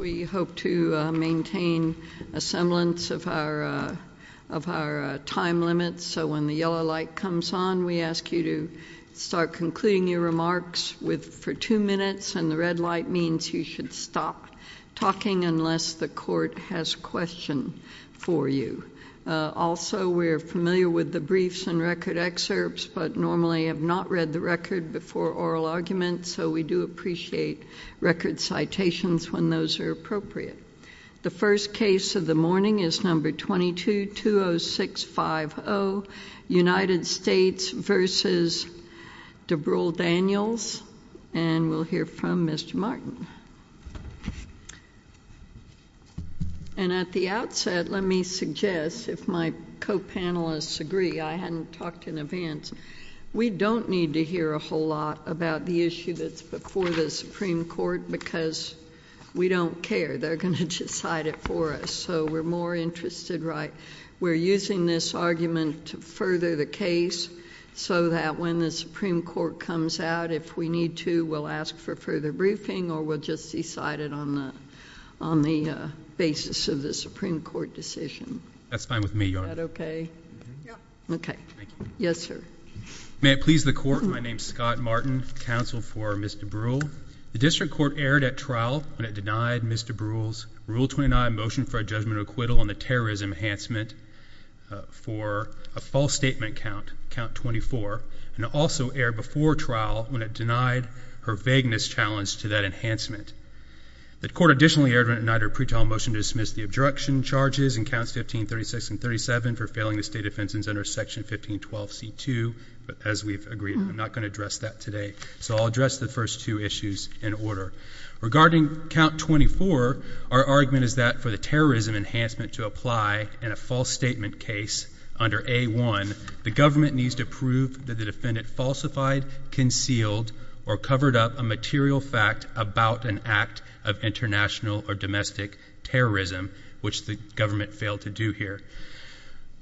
We hope to maintain a semblance of our time limit, so when the yellow light comes on, we ask you to start concluding your remarks for two minutes, and the red light means you should stop talking unless the court has a question for you. Also, we are familiar with the briefs and record excerpts, but normally have not read the record before oral argument, so we do appreciate record citations when those are appropriate. The first case of the morning is number 22-20650, United States v. De Bruhl-Daniels, and we'll hear from Mr. Martin. And at the outset, let me suggest, if my co-panelists agree, I hadn't talked in advance, we don't need to hear a whole lot about the issue that's before the Supreme Court, because we don't care. They're going to decide it for us, so we're more interested, right? We're using this argument to further the case, so that when the Supreme Court comes out, if we need to, we'll ask for further briefing, or we'll just decide it on the basis of the Supreme Court decision. That's fine with me, Your Honor. Okay. Yes, sir. May it please the Court, my name is Scott Martin, counsel for Ms. De Bruhl. The district court erred at trial when it denied Ms. De Bruhl's Rule 29 motion for a judgment of acquittal on the terrorism enhancement for a false statement count, count 24, and also erred before trial when it denied her vagueness challenge to that enhancement. The court additionally erred when it denied her pre-trial motion to dismiss the obstruction charges in counts 15, 36, and 37 for failing the state defense under section 1512C2, but as we've agreed, I'm not going to address that today, so I'll address the first two issues in order. Regarding count 24, our argument is that for the terrorism enhancement to apply in a false statement case under A1, the government needs to prove that the defendant falsified, concealed, or domestic terrorism, which the government failed to do here.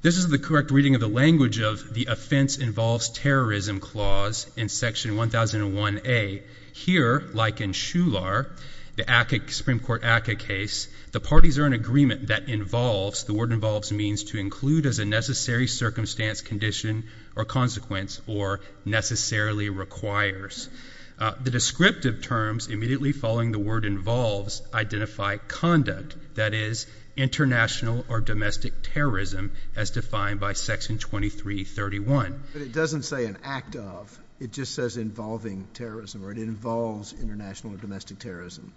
This is the correct reading of the language of the offense involves terrorism clause in section 1001A. Here, like in Shular, the Supreme Court ACCA case, the parties are in agreement that involves, the word involves means to include as a necessary circumstance, condition, or consequence, or necessarily requires. The descriptive terms immediately following the word involves identify conduct, that is, international or domestic terrorism as defined by section 2331. But it doesn't say an act of, it just says involving terrorism, or it involves international or domestic terrorism.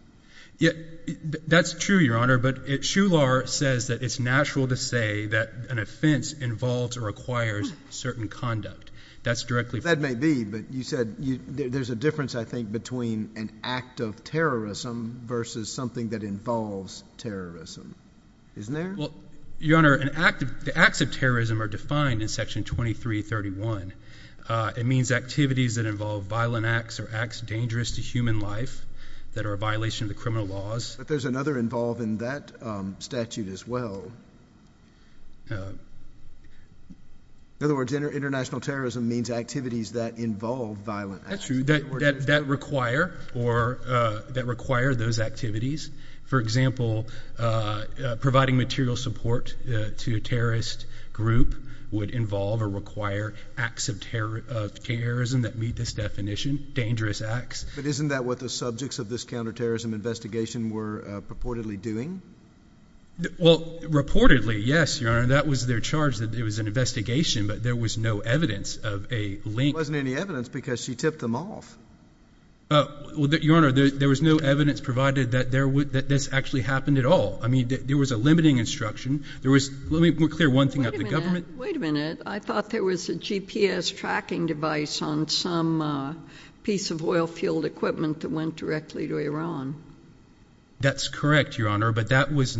That's true, Your Honor, but Shular says that it's natural to say that an offense involves or requires certain conduct. That's directly said, there's a difference, I think, between an act of terrorism versus something that involves terrorism, isn't there? Well, Your Honor, the acts of terrorism are defined in section 2331. It means activities that involve violent acts or acts dangerous to human life that are a violation of the criminal laws. There's another involve in that statute as well. In other words, international terrorism means activities that involve violent acts. That's true, that require those activities. For example, providing material support to a terrorist group would involve or require acts of terrorism that meet this definition, dangerous acts. But isn't that what the subjects of this counterterrorism investigation were purportedly doing? Well, reportedly, yes, Your Honor, that was their charge, that it was an investigation, but there was no evidence of a link. There wasn't any evidence because she tipped them off. Well, Your Honor, there was no evidence provided that this actually happened at all. I mean, there was a limiting instruction. Let me clear one thing up, the government. Wait a minute. I thought there was a GPS tracking device on some piece of oil field equipment that went directly to Iran. That's correct, Your Honor, but that was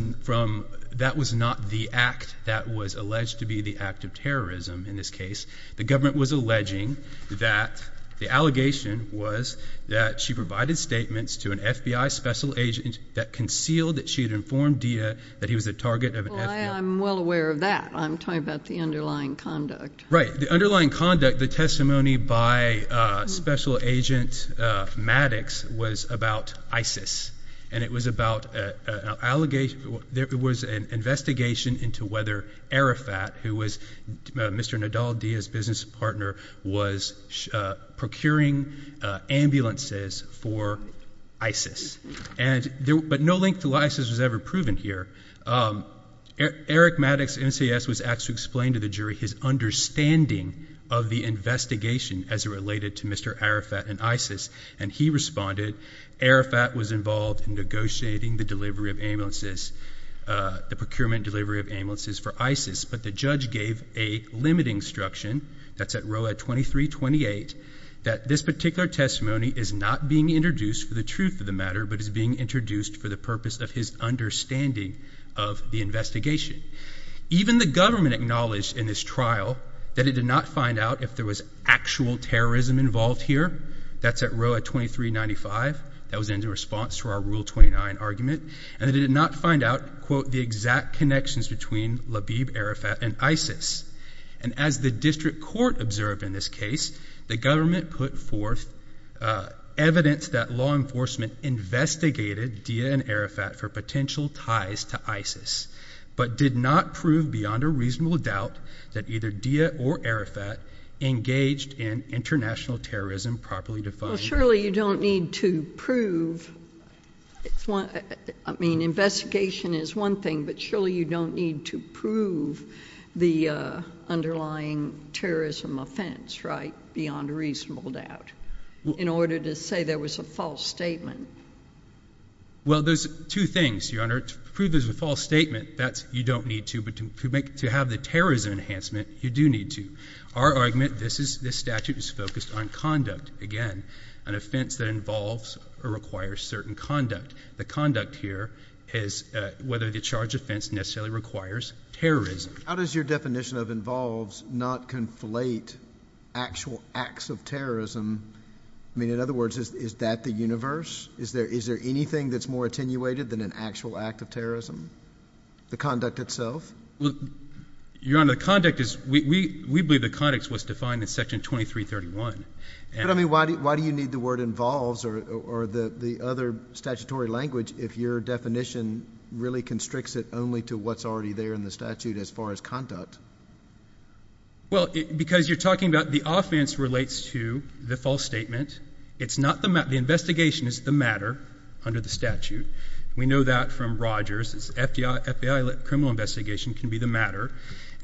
not the act that was alleged to be the act of terrorism in this case. The government was alleging that, the allegation was that she provided statements to an FBI special agent that concealed that she had informed Dia that he was the target of an FBI... Well, I'm well aware of that. I'm talking about the underlying conduct. Right. The underlying conduct, the testimony by Special Agent Maddox was about ISIS, and it was an investigation into whether Arafat, who was Mr. Nadal Dia's business partner, was procuring ambulances for ISIS, but no link to ISIS was ever proven here. Eric Maddox, NCS, was asked to explain to the jury his understanding of the investigation as it related to Mr. Arafat and ISIS, and he responded, Arafat was involved in negotiating the delivery of ambulances, the procurement delivery of ambulances for ISIS, but the judge gave a limiting instruction, that's at row 2328, that this particular testimony is not being introduced for the truth of the matter, but is being introduced for the purpose of his understanding of the investigation. Even the government acknowledged in this trial that it did not find out if there was actual terrorism involved here, that's at row 2395, that was in response to our rule 29 argument, and it did not find out, quote, the exact connections between Labib, Arafat, and ISIS. And as the district court observed in this case, the government put forth evidence that law enforcement investigated Dia and Arafat for potential ties to ISIS, but did not prove beyond a reasonable doubt that either Dia or Arafat engaged in international terrorism properly defined. Well, surely you don't need to prove, I mean, investigation is one thing, but surely you don't need to prove the underlying terrorism offense, right, beyond a reasonable doubt, in order to say there was a false statement. Well, there's two things, Your Honor. To prove there's a false statement, that's, you don't need to, but to have the terrorism enhancement, you do need to. Our argument, this statute is focused on conduct, again, an offense that involves or requires certain conduct. The conduct here is whether the charged offense necessarily requires terrorism. How does your definition of involves not conflate actual acts of terrorism? I mean, in other words, is that the universe? Is there anything that's more attenuated than an actual act of terrorism? The conduct itself? Your Honor, the conduct is, we believe the conduct was defined in section 2331. But I mean, why do you need the word involves or the other statutory language if your definition really constricts it only to what's already there in the statute as far as conduct? Well, because you're talking about the offense relates to the false statement. It's not the matter. The investigation is the matter under the statute. We know that from Rogers. FBI criminal investigation can be the matter.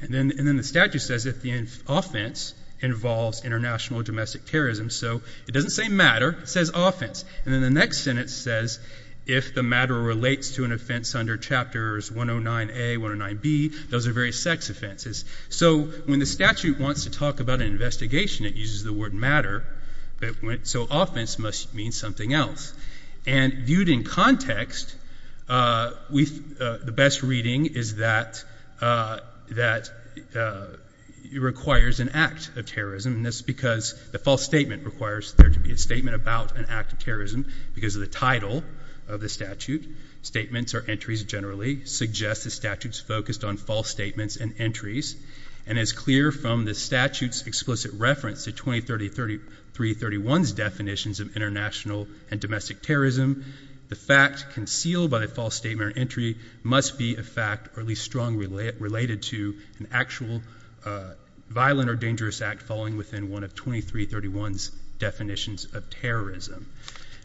And then the statute says if the offense involves international or domestic terrorism. So it doesn't say matter, it says offense. And then the next sentence says if the matter relates to an offense under chapters 109A, 109B, those are various sex offenses. So when the statute wants to talk about an investigation, it uses the word matter. So offense must mean something else. And viewed in context, the best reading is that it requires an act of terrorism. And that's because the false statement requires there to be a statement about an act of terrorism because of the title of the statute. Statements or entries generally suggest the statute's focused on false statements and entries. And it's clear from the statute's explicit reference to 203331's definitions of international and domestic terrorism, the fact concealed by the false statement or entry must be a fact or at least strongly related to an actual violent or dangerous act following within one of 2331's definitions of terrorism.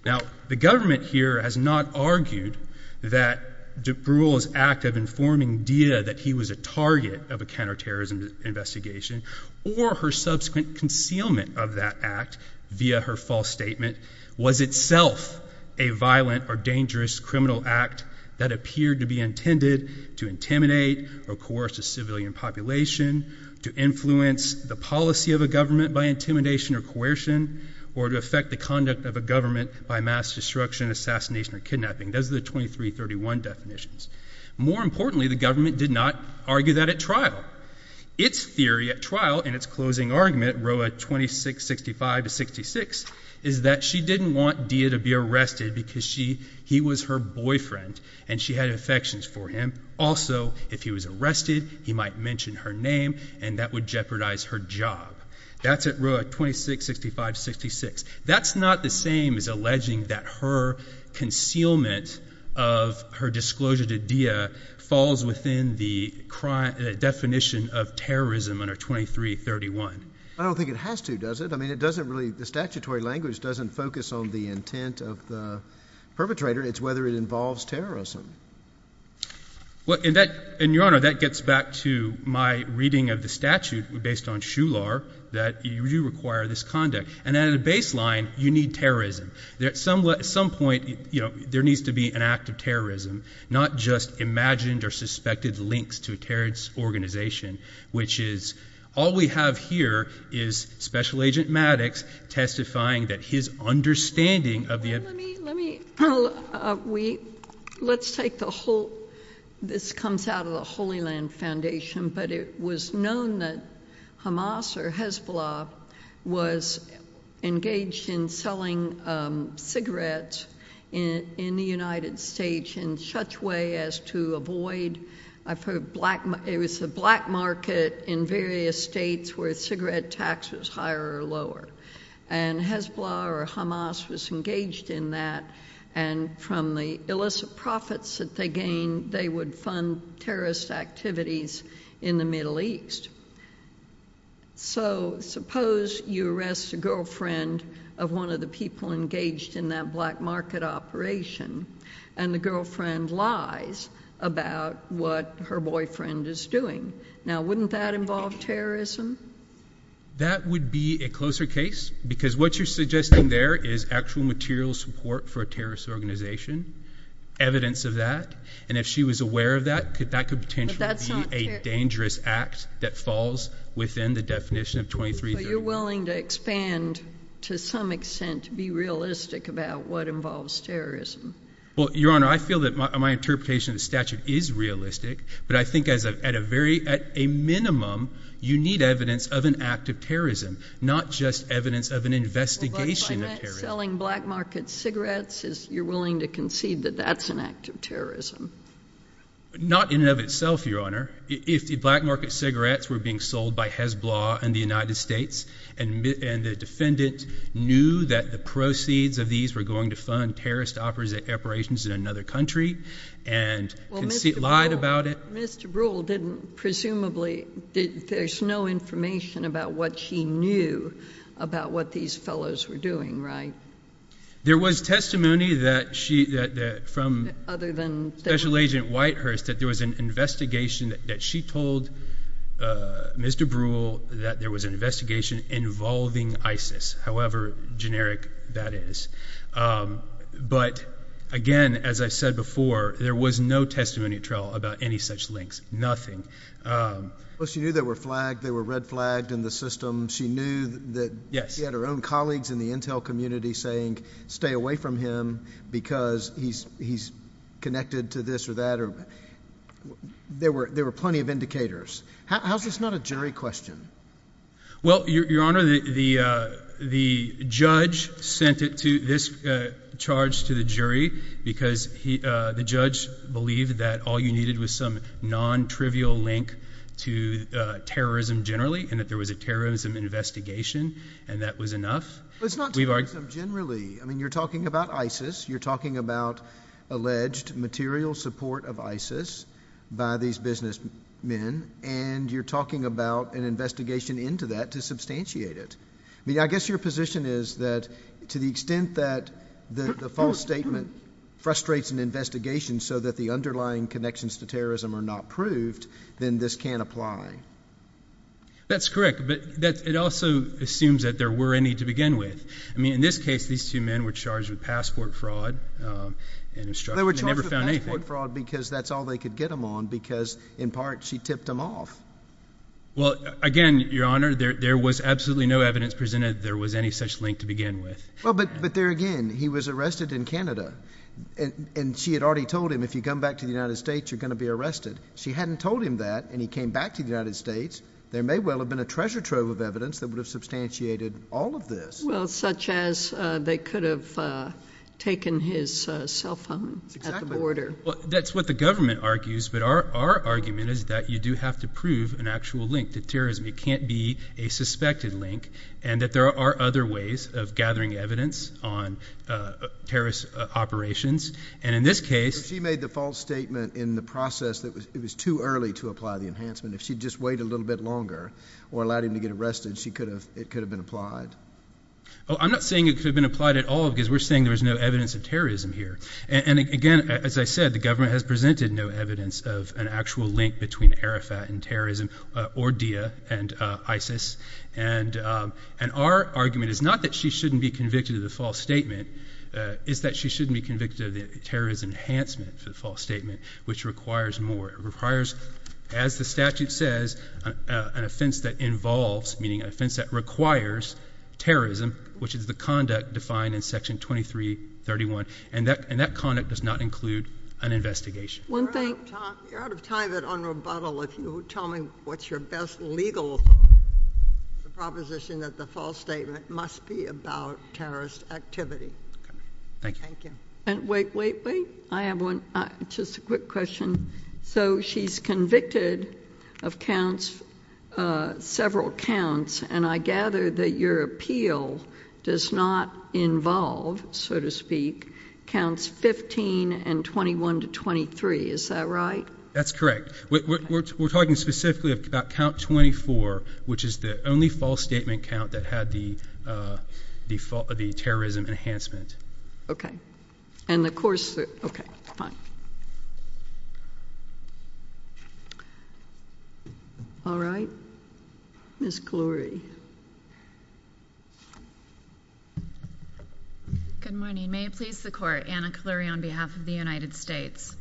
Now the government here has not argued that DeBrule's act of informing DITA that he was a target of a counterterrorism investigation or her subsequent concealment of that act via her false statement was itself a violent or dangerous criminal act that appeared to be intended to intimidate or coerce a civilian population, to influence the policy of a government by intimidation or coercion, or to affect the conduct of a government by mass destruction, assassination, or kidnapping. Those are the 2331 definitions. More importantly, the government did not argue that at trial. Its theory at trial in its closing argument, row 2665-66, is that she didn't want DITA to be arrested because he was her boyfriend and she had affections for him. Also, if he was arrested, he might mention her name and that would jeopardize her job. That's at row 2665-66. That's not the same as alleging that her concealment of her disclosure to DITA falls within the definition of terrorism under 2331. I don't think it has to, does it? I mean, it doesn't really, the statutory language doesn't focus on the intent of the perpetrator, it's whether it involves terrorism. Well, and that, and your honor, that gets back to my reading of the statute based on Shular, that you require this conduct. And at a baseline, you need terrorism. At some point, you know, there needs to be an act of terrorism, not just imagined or suspected links to a terrorist organization, which is, all we have here is special agent Maddox testifying that his understanding of the. Let's take the whole, this comes out of the Holy Land Foundation, but it was known that Hamas or Hezbollah was engaged in selling cigarettes in the United States in such way as to avoid, I've heard it was a black market in various states where cigarette tax was higher or lower. And Hezbollah or Hamas was engaged in that, and from the illicit profits that they gained, they would fund terrorist activities in the Middle East. So suppose you arrest a girlfriend of one of the people engaged in that black market operation, and the girlfriend lies about what her boyfriend is doing. Now, wouldn't that involve terrorism? That would be a closer case because what you're suggesting there is actual material support for a terrorist organization, evidence of that, and if she was aware of that, that could potentially be a dangerous act that falls within the definition of 2330. So you're willing to expand to some extent to be realistic about what involves terrorism? Well, your honor, I feel that my But I think at a minimum, you need evidence of an act of terrorism, not just evidence of an investigation of terrorism. But by not selling black market cigarettes, you're willing to concede that that's an act of terrorism? Not in and of itself, your honor. If the black market cigarettes were being sold by Hezbollah in the United States, and the defendant knew that the proceeds of these were going to fund terrorist operations in another country, and Mr. Brewer didn't presumably, there's no information about what she knew about what these fellows were doing, right? There was testimony that she that from other than special agent Whitehurst that there was an investigation that she told Mr. Brewer that there was an investigation involving ISIS, however generic that is. But again, as I said before, there was no testimony at trial about any such links, nothing. Well, she knew they were flagged, they were red flagged in the system. She knew that yes, she had her own colleagues in the Intel community saying stay away from him, because he's he's connected to this or that. Or there were there were plenty of indicators. How's this not a jury question? Well, your honor, the the judge sent it to this charge to the jury, because he, the judge believed that all you needed was some non trivial link to terrorism generally, and that there was a terrorism investigation. And that was enough. It's not we've argued generally, I mean, you're talking about ISIS, you're talking about alleged material support of ISIS by these business men. And you're talking about an investigation into that to substantiate it. I mean, I guess your position is that, to the extent that the false statement frustrates an investigation, so that the underlying connections to terrorism are not proved, then this can apply. That's correct. But that it also assumes that there were any to begin with. I mean, in this case, these two men were charged with passport fraud. And they were charged with passport fraud, because that's all they could get them on. Because in part, she tipped them off. Well, again, your honor, there was absolutely no evidence presented there was any such link to begin with. Well, but but there again, he was arrested in Canada. And she had already told him, if you come back to the United States, you're going to be arrested. She hadn't told him that and he came back to the United States, there may well have been a treasure trove of evidence that would have substantiated all of this well, such as they could have taken his cell order. Well, that's what the government argues. But our argument is that you do have to prove an actual link to terrorism, it can't be a suspected link. And that there are other ways of gathering evidence on terrorist operations. And in this case, she made the false statement in the process that it was too early to apply the enhancement if she just wait a little bit longer, or allowed him to get arrested, she could have it could have been applied. Oh, I'm not saying it could have been applied at all, because we're saying there's no evidence of terrorism here. And again, as I said, the government has presented no evidence of an actual link between Arafat and terrorism, or Dia and ISIS. And, and our argument is not that she shouldn't be convicted of the false statement is that she shouldn't be convicted of the terrorist enhancement for the false statement, which requires more requires, as the statute says, an offense that involves meaning offense that requires terrorism, which is the conduct defined in Section 2331. And that and that conduct does not include an investigation. One thing out of time at on rebuttal, if you tell me what's your best legal proposition that the false statement must be about terrorist activity. Thank you. And wait, wait, wait, I have one. Just a quick question. So she's convicted of counts, several counts, and I gather that your appeal does not involve, so to speak, counts 15 and 21 to 23. Is that right? That's correct. We're talking specifically about count 24, which is the only false statement count that had the default of the terrorism enhancement. Okay. And the course. Okay, fine. All right, Miss Glory. Good morning. May it please the court. Anna Cleary on behalf of the United States.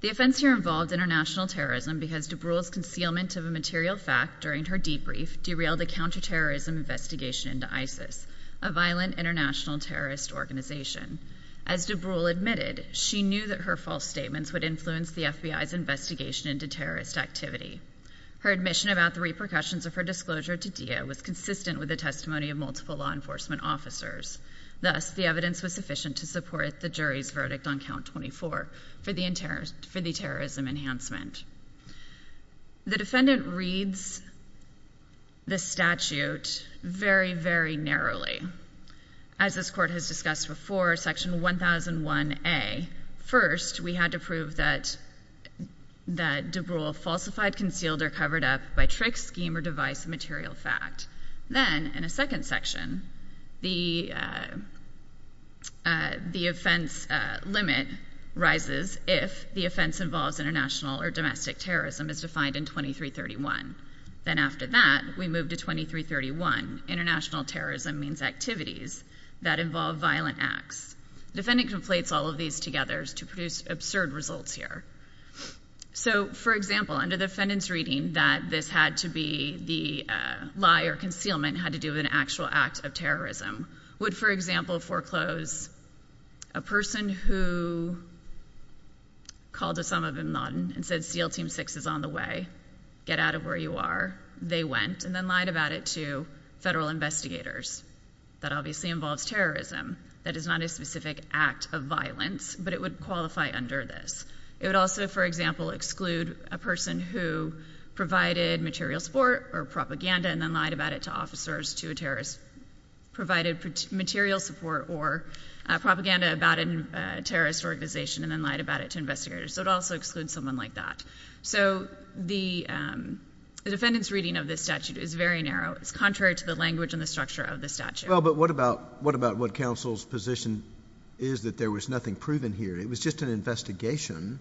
The offense here involved international terrorism because to bruise concealment of a material fact during her debrief derailed a counterterrorism investigation into ISIS, a violent international terrorist organization. As DeBruyne admitted, she knew that her false statements would influence the FBI's investigation into terrorist activity. Her admission about the repercussions of her disclosure to do was consistent with the testimony of multiple law enforcement officers. Thus, the evidence was sufficient to support the jury's verdict on count 24 for the interest for the terrorism enhancement. The defendant reads the statute very, very narrowly, as this court has discussed before, Section 1001 A. First, we had to prove that DeBruyne falsified, concealed, or covered up by trick, scheme, or device a material fact. Then, in a second section, the offense limit rises if the offense involves international or domestic terrorism as defined in 2331. Then after that, we move to 2331. International terrorism means activities that involve violent acts. Defendant conflates all of these together to produce absurd results here. So, for example, under the defendant's reading that this had to be the lie or concealment had to do with an actual act of terrorism, would, for example, foreclose a person who called Osama bin Laden and said, Seal Team 6 is on the way. Get out of where went, and then lied about it to federal investigators. That obviously involves terrorism. That is not a specific act of violence, but it would qualify under this. It would also, for example, exclude a person who provided material support or propaganda and then lied about it to officers to a terrorist, provided material support or propaganda about a terrorist organization and then lied about it to investigators. So, it also excludes someone like that. So, the defendant's reading of this statute is very narrow. It's contrary to the language and the structure of the statute. Well, but what about what counsel's position is that there was nothing proven here? It was just an investigation.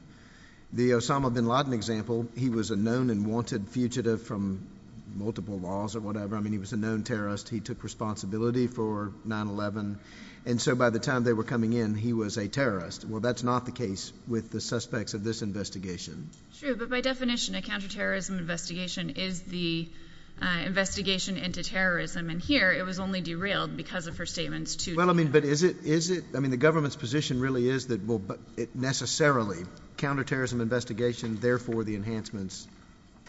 The Osama bin Laden example, he was a known and wanted fugitive from multiple laws or whatever. I mean, he was a known terrorist. He took responsibility for 9-11, and so by the time they were coming in, he was a terrorist. Well, that's not the case with the suspects of this investigation. True, but by definition, a counterterrorism investigation is the investigation into terrorism, and here it was only derailed because of her statements to the government. Well, I mean, but is it? I mean, the government's position really is that, well, it necessarily — counterterrorism investigation, therefore the enhancements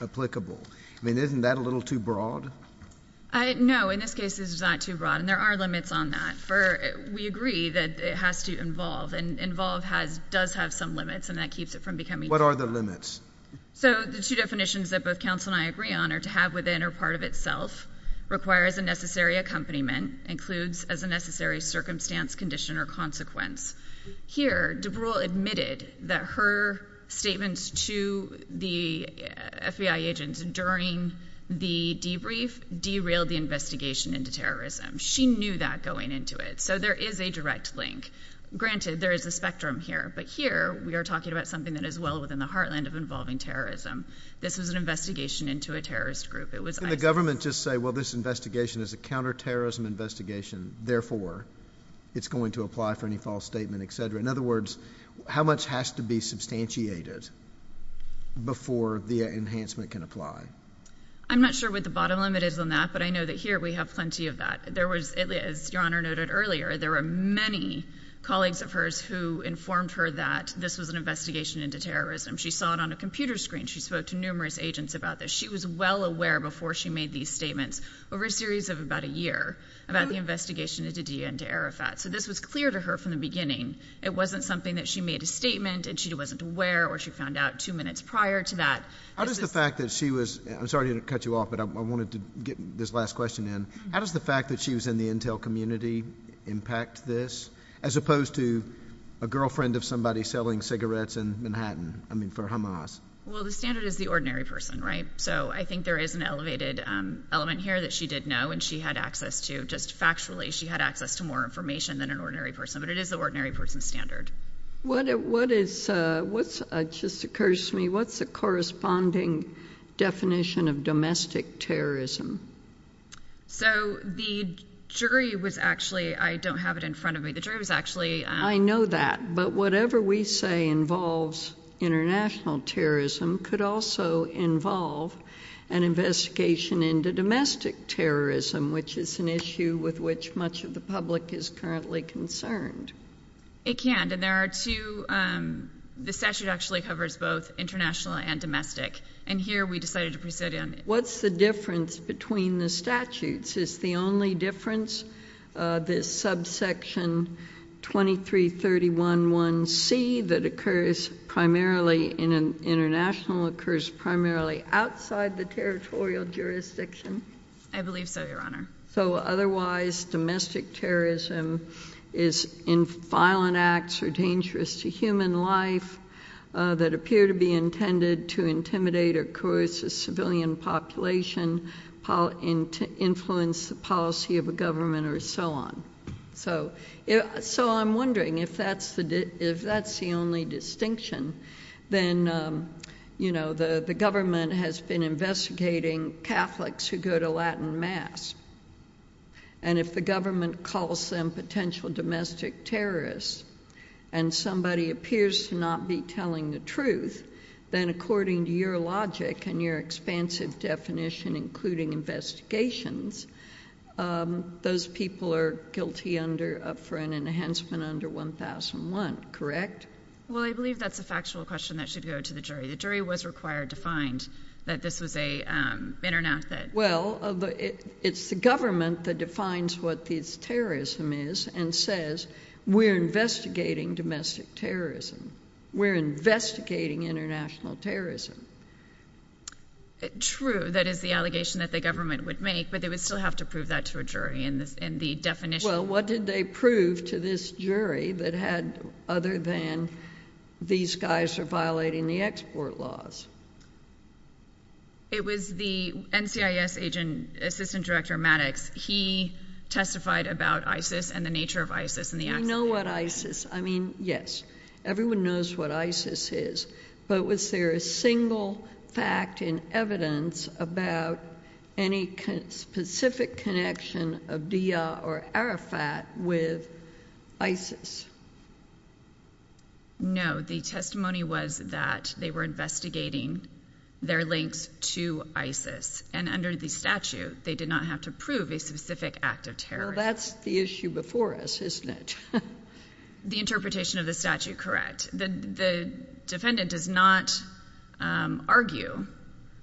applicable. I mean, isn't that a little too broad? No, in this case, it's not too broad, and there are limits on that. We agree that it does have some limits, and that keeps it from becoming — What are the limits? So, the two definitions that both counsel and I agree on are to have within or part of itself, require as a necessary accompaniment, includes as a necessary circumstance, condition, or consequence. Here, DeBrule admitted that her statements to the FBI agents during the debrief derailed the investigation into terrorism. She knew that going into it, so there is a spectrum here, but here, we are talking about something that is well within the heartland of involving terrorism. This was an investigation into a terrorist group. It was ISIS. Can the government just say, well, this investigation is a counterterrorism investigation, therefore it's going to apply for any false statement, et cetera? In other words, how much has to be substantiated before the enhancement can apply? I'm not sure what the bottom limit is on that, but I know that here, we have plenty of that. As Your Honor noted earlier, there were many colleagues of hers who informed her that this was an investigation into terrorism. She saw it on a computer screen. She spoke to numerous agents about this. She was well aware before she made these statements, over a series of about a year, about the investigation into DIA and to Arafat. So, this was clear to her from the beginning. It wasn't something that she made a statement, and she wasn't aware, or she found out two minutes prior to that. How does the fact that she was — I'm sorry to cut you off, but I wanted to get this last question in. How does the fact that she was in the intel community impact this, as opposed to a girlfriend of somebody selling cigarettes in Manhattan, I mean, for Hamas? Well, the standard is the ordinary person, right? So, I think there is an elevated element here that she did know, and she had access to — just factually, she had access to more information than an ordinary person. But it is the ordinary person's standard. What is — what's — it just occurs to me, what's the corresponding definition of domestic terrorism? So, the jury was actually — I don't have it in front of me. The jury was actually — I know that. But whatever we say involves international terrorism could also involve an investigation into domestic terrorism, which is an issue with which much of the public is currently concerned. It can't. And there are two — the statute actually covers both international and domestic. And here, we decided to preside on — What's the difference between the statutes? Is the only difference the subsection 2331.1c that occurs primarily in an international, occurs primarily outside the territorial jurisdiction? I believe so, Your Honor. So, otherwise, domestic terrorism is in violent acts or dangerous to human life that appear to be intended to intimidate or coerce a civilian population, influence the policy of a government, or so on. So, I'm wondering if that's the only distinction. Then, you know, the government has been investigating Catholics who go to Latin mass. And if the government calls them potential domestic terrorists, and somebody appears to not be telling the truth, then according to your logic and your expansive definition, including investigations, those people are guilty under — up for an enhancement under 1001, correct? Well, I believe that's a factual question that should go to the jury. The jury was required to find that this was an internet that — Well, it's the government that defines what this terrorism is and says, we're investigating domestic terrorism. We're investigating international terrorism. True. That is the allegation that the government would make, but they would still have to prove that to a jury in the definition — Well, what did they prove to this jury that had — other than these guys are violating the export laws? It was the NCIS agent, Assistant Director Maddox. He testified about ISIS and the nature of ISIS and the — We know what ISIS — I mean, yes. Everyone knows what ISIS is. But was there a single fact in evidence about any specific connection of DIA or Arafat with ISIS? No. The testimony was that they were investigating their links to ISIS. And under the statute, they did not have to prove a specific act of terrorism. Well, that's the issue before us, isn't it? The interpretation of the statute, correct. The defendant does not argue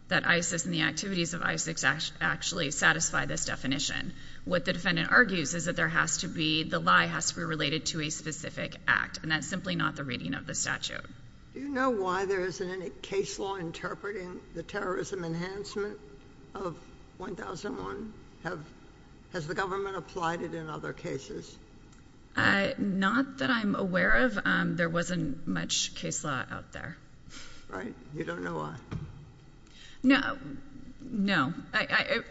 that ISIS and the activities of ISIS actually satisfy this definition. What the defendant argues is that there has to be — the lie has to be related to a specific act. And that's simply not the reading of the statute. Do you know why there isn't any case law interpreting the terrorism enhancement of 1001? Has the government applied it in other cases? Not that I'm aware of. There wasn't much case law out there. Right. You don't know why. No. No.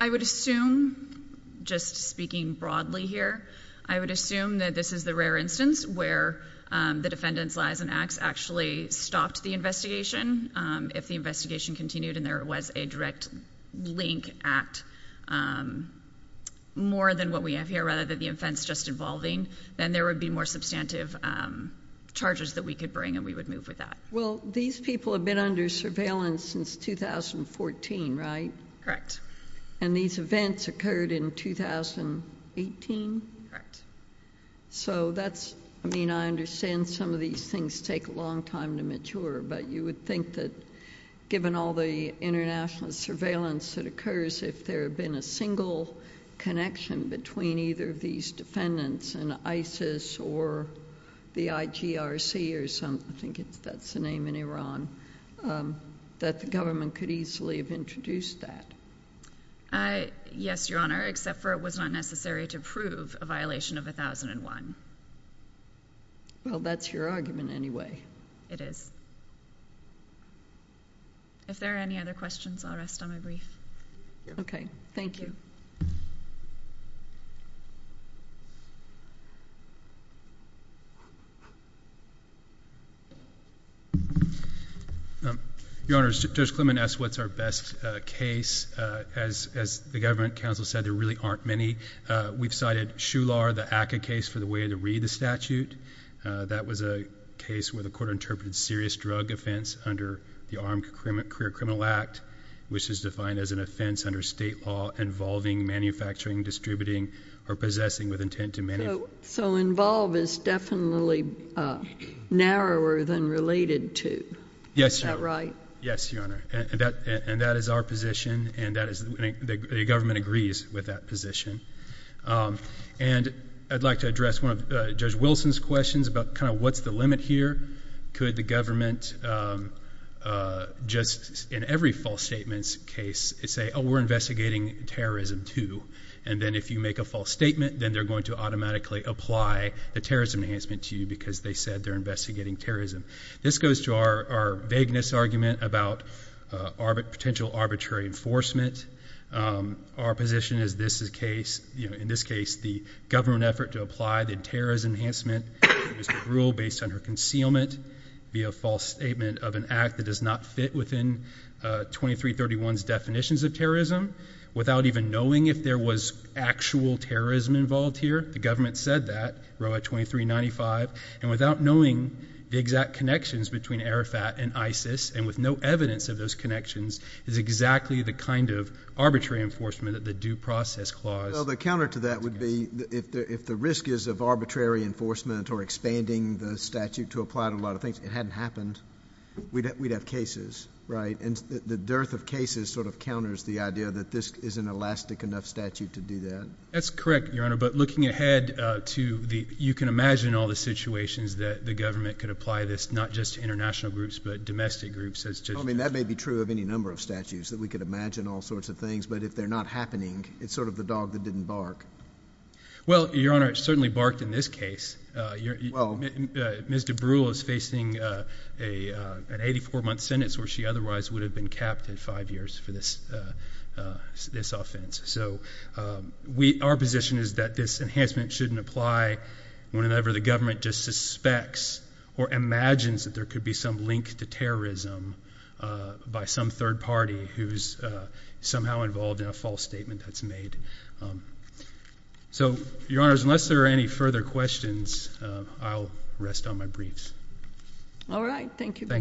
I would assume, just speaking broadly here, I would assume that this is the rare instance where the defendant's lies and acts actually stopped the investigation. If the investigation continued and there was a direct link at more than what we have here, rather than the offense just involving, then there would be more substantive charges that we could bring and we would move with that. Well, these people have been under surveillance since 2014, right? Correct. And these events occurred in 2018? Correct. So that's — I mean, I understand some of these things take a long time to mature, but you would think that given all the international surveillance that occurs, if there had been a single connection between either of these defendants and ISIS or the IGRC or some — I don't know what's the name in Iran — that the government could easily have introduced that. Yes, Your Honor, except for it was not necessary to prove a violation of 1001. Well, that's your argument anyway. It is. If there are any other questions, I'll rest on my brief. Okay. Thank you. Your Honor, Judge Clement asked what's our best case. As the government counsel said, there really aren't many. We've cited Shular, the ACCA case for the way to read the statute. That was a case where the court interpreted serious drug offense under the Armed Career Criminal Act, which is defined as an offense under state law involving manufacturing, distributing, or possessing with intent to — So involve is definitely narrower than related to. Yes, Your Honor. Is that right? Yes, Your Honor. And that is our position, and the government agrees with that position. And I'd like to address one of Judge Wilson's questions about kind of what's the limit here. Could the government just, in every false statements case, say, oh, we're investigating terrorism, too. And then if you make a false statement, then they're going to automatically apply the terrorism enhancement to you because they said they're investigating terrorism. This goes to our vagueness argument about potential arbitrary enforcement. Our position is this is case — you know, in this case, the government effort to apply the terrorism enhancement rule based on her concealment via a false statement of an act that does not fit within 2331's definitions of terrorism, without even knowing if there was actual terrorism involved here. The government said that, row of 2395. And without knowing the exact connections between Arafat and ISIS, and with no evidence of those connections, is exactly the kind of arbitrary enforcement that the Due Process Clause — Well, the counter to that would be if the risk is of arbitrary enforcement or expanding the statute to apply to a lot of things, it hadn't happened, we'd have cases, right? And the dearth of cases sort of counters the idea that this is an elastic enough statute to do that. That's correct, Your Honor. But looking ahead to the — you can imagine all the situations that the government could apply this, not just to international groups, but domestic groups as to — I mean, that may be true of any number of statutes, that we could imagine all sorts of things. But if they're not happening, it's sort of the dog that didn't bark. Well, Your Honor, it certainly barked in this case. Well — Ms. DeBruyll is facing an 84-month sentence where she otherwise would have been capped in five years for this offense. So our position is that this enhancement shouldn't apply whenever the government just suspects or imagines that there could be some link to terrorism by some third party who's somehow involved in a false statement that's made. So, Your Honors, unless there are any further questions, I'll rest on my briefs. All right. Thank you very much. Thank you.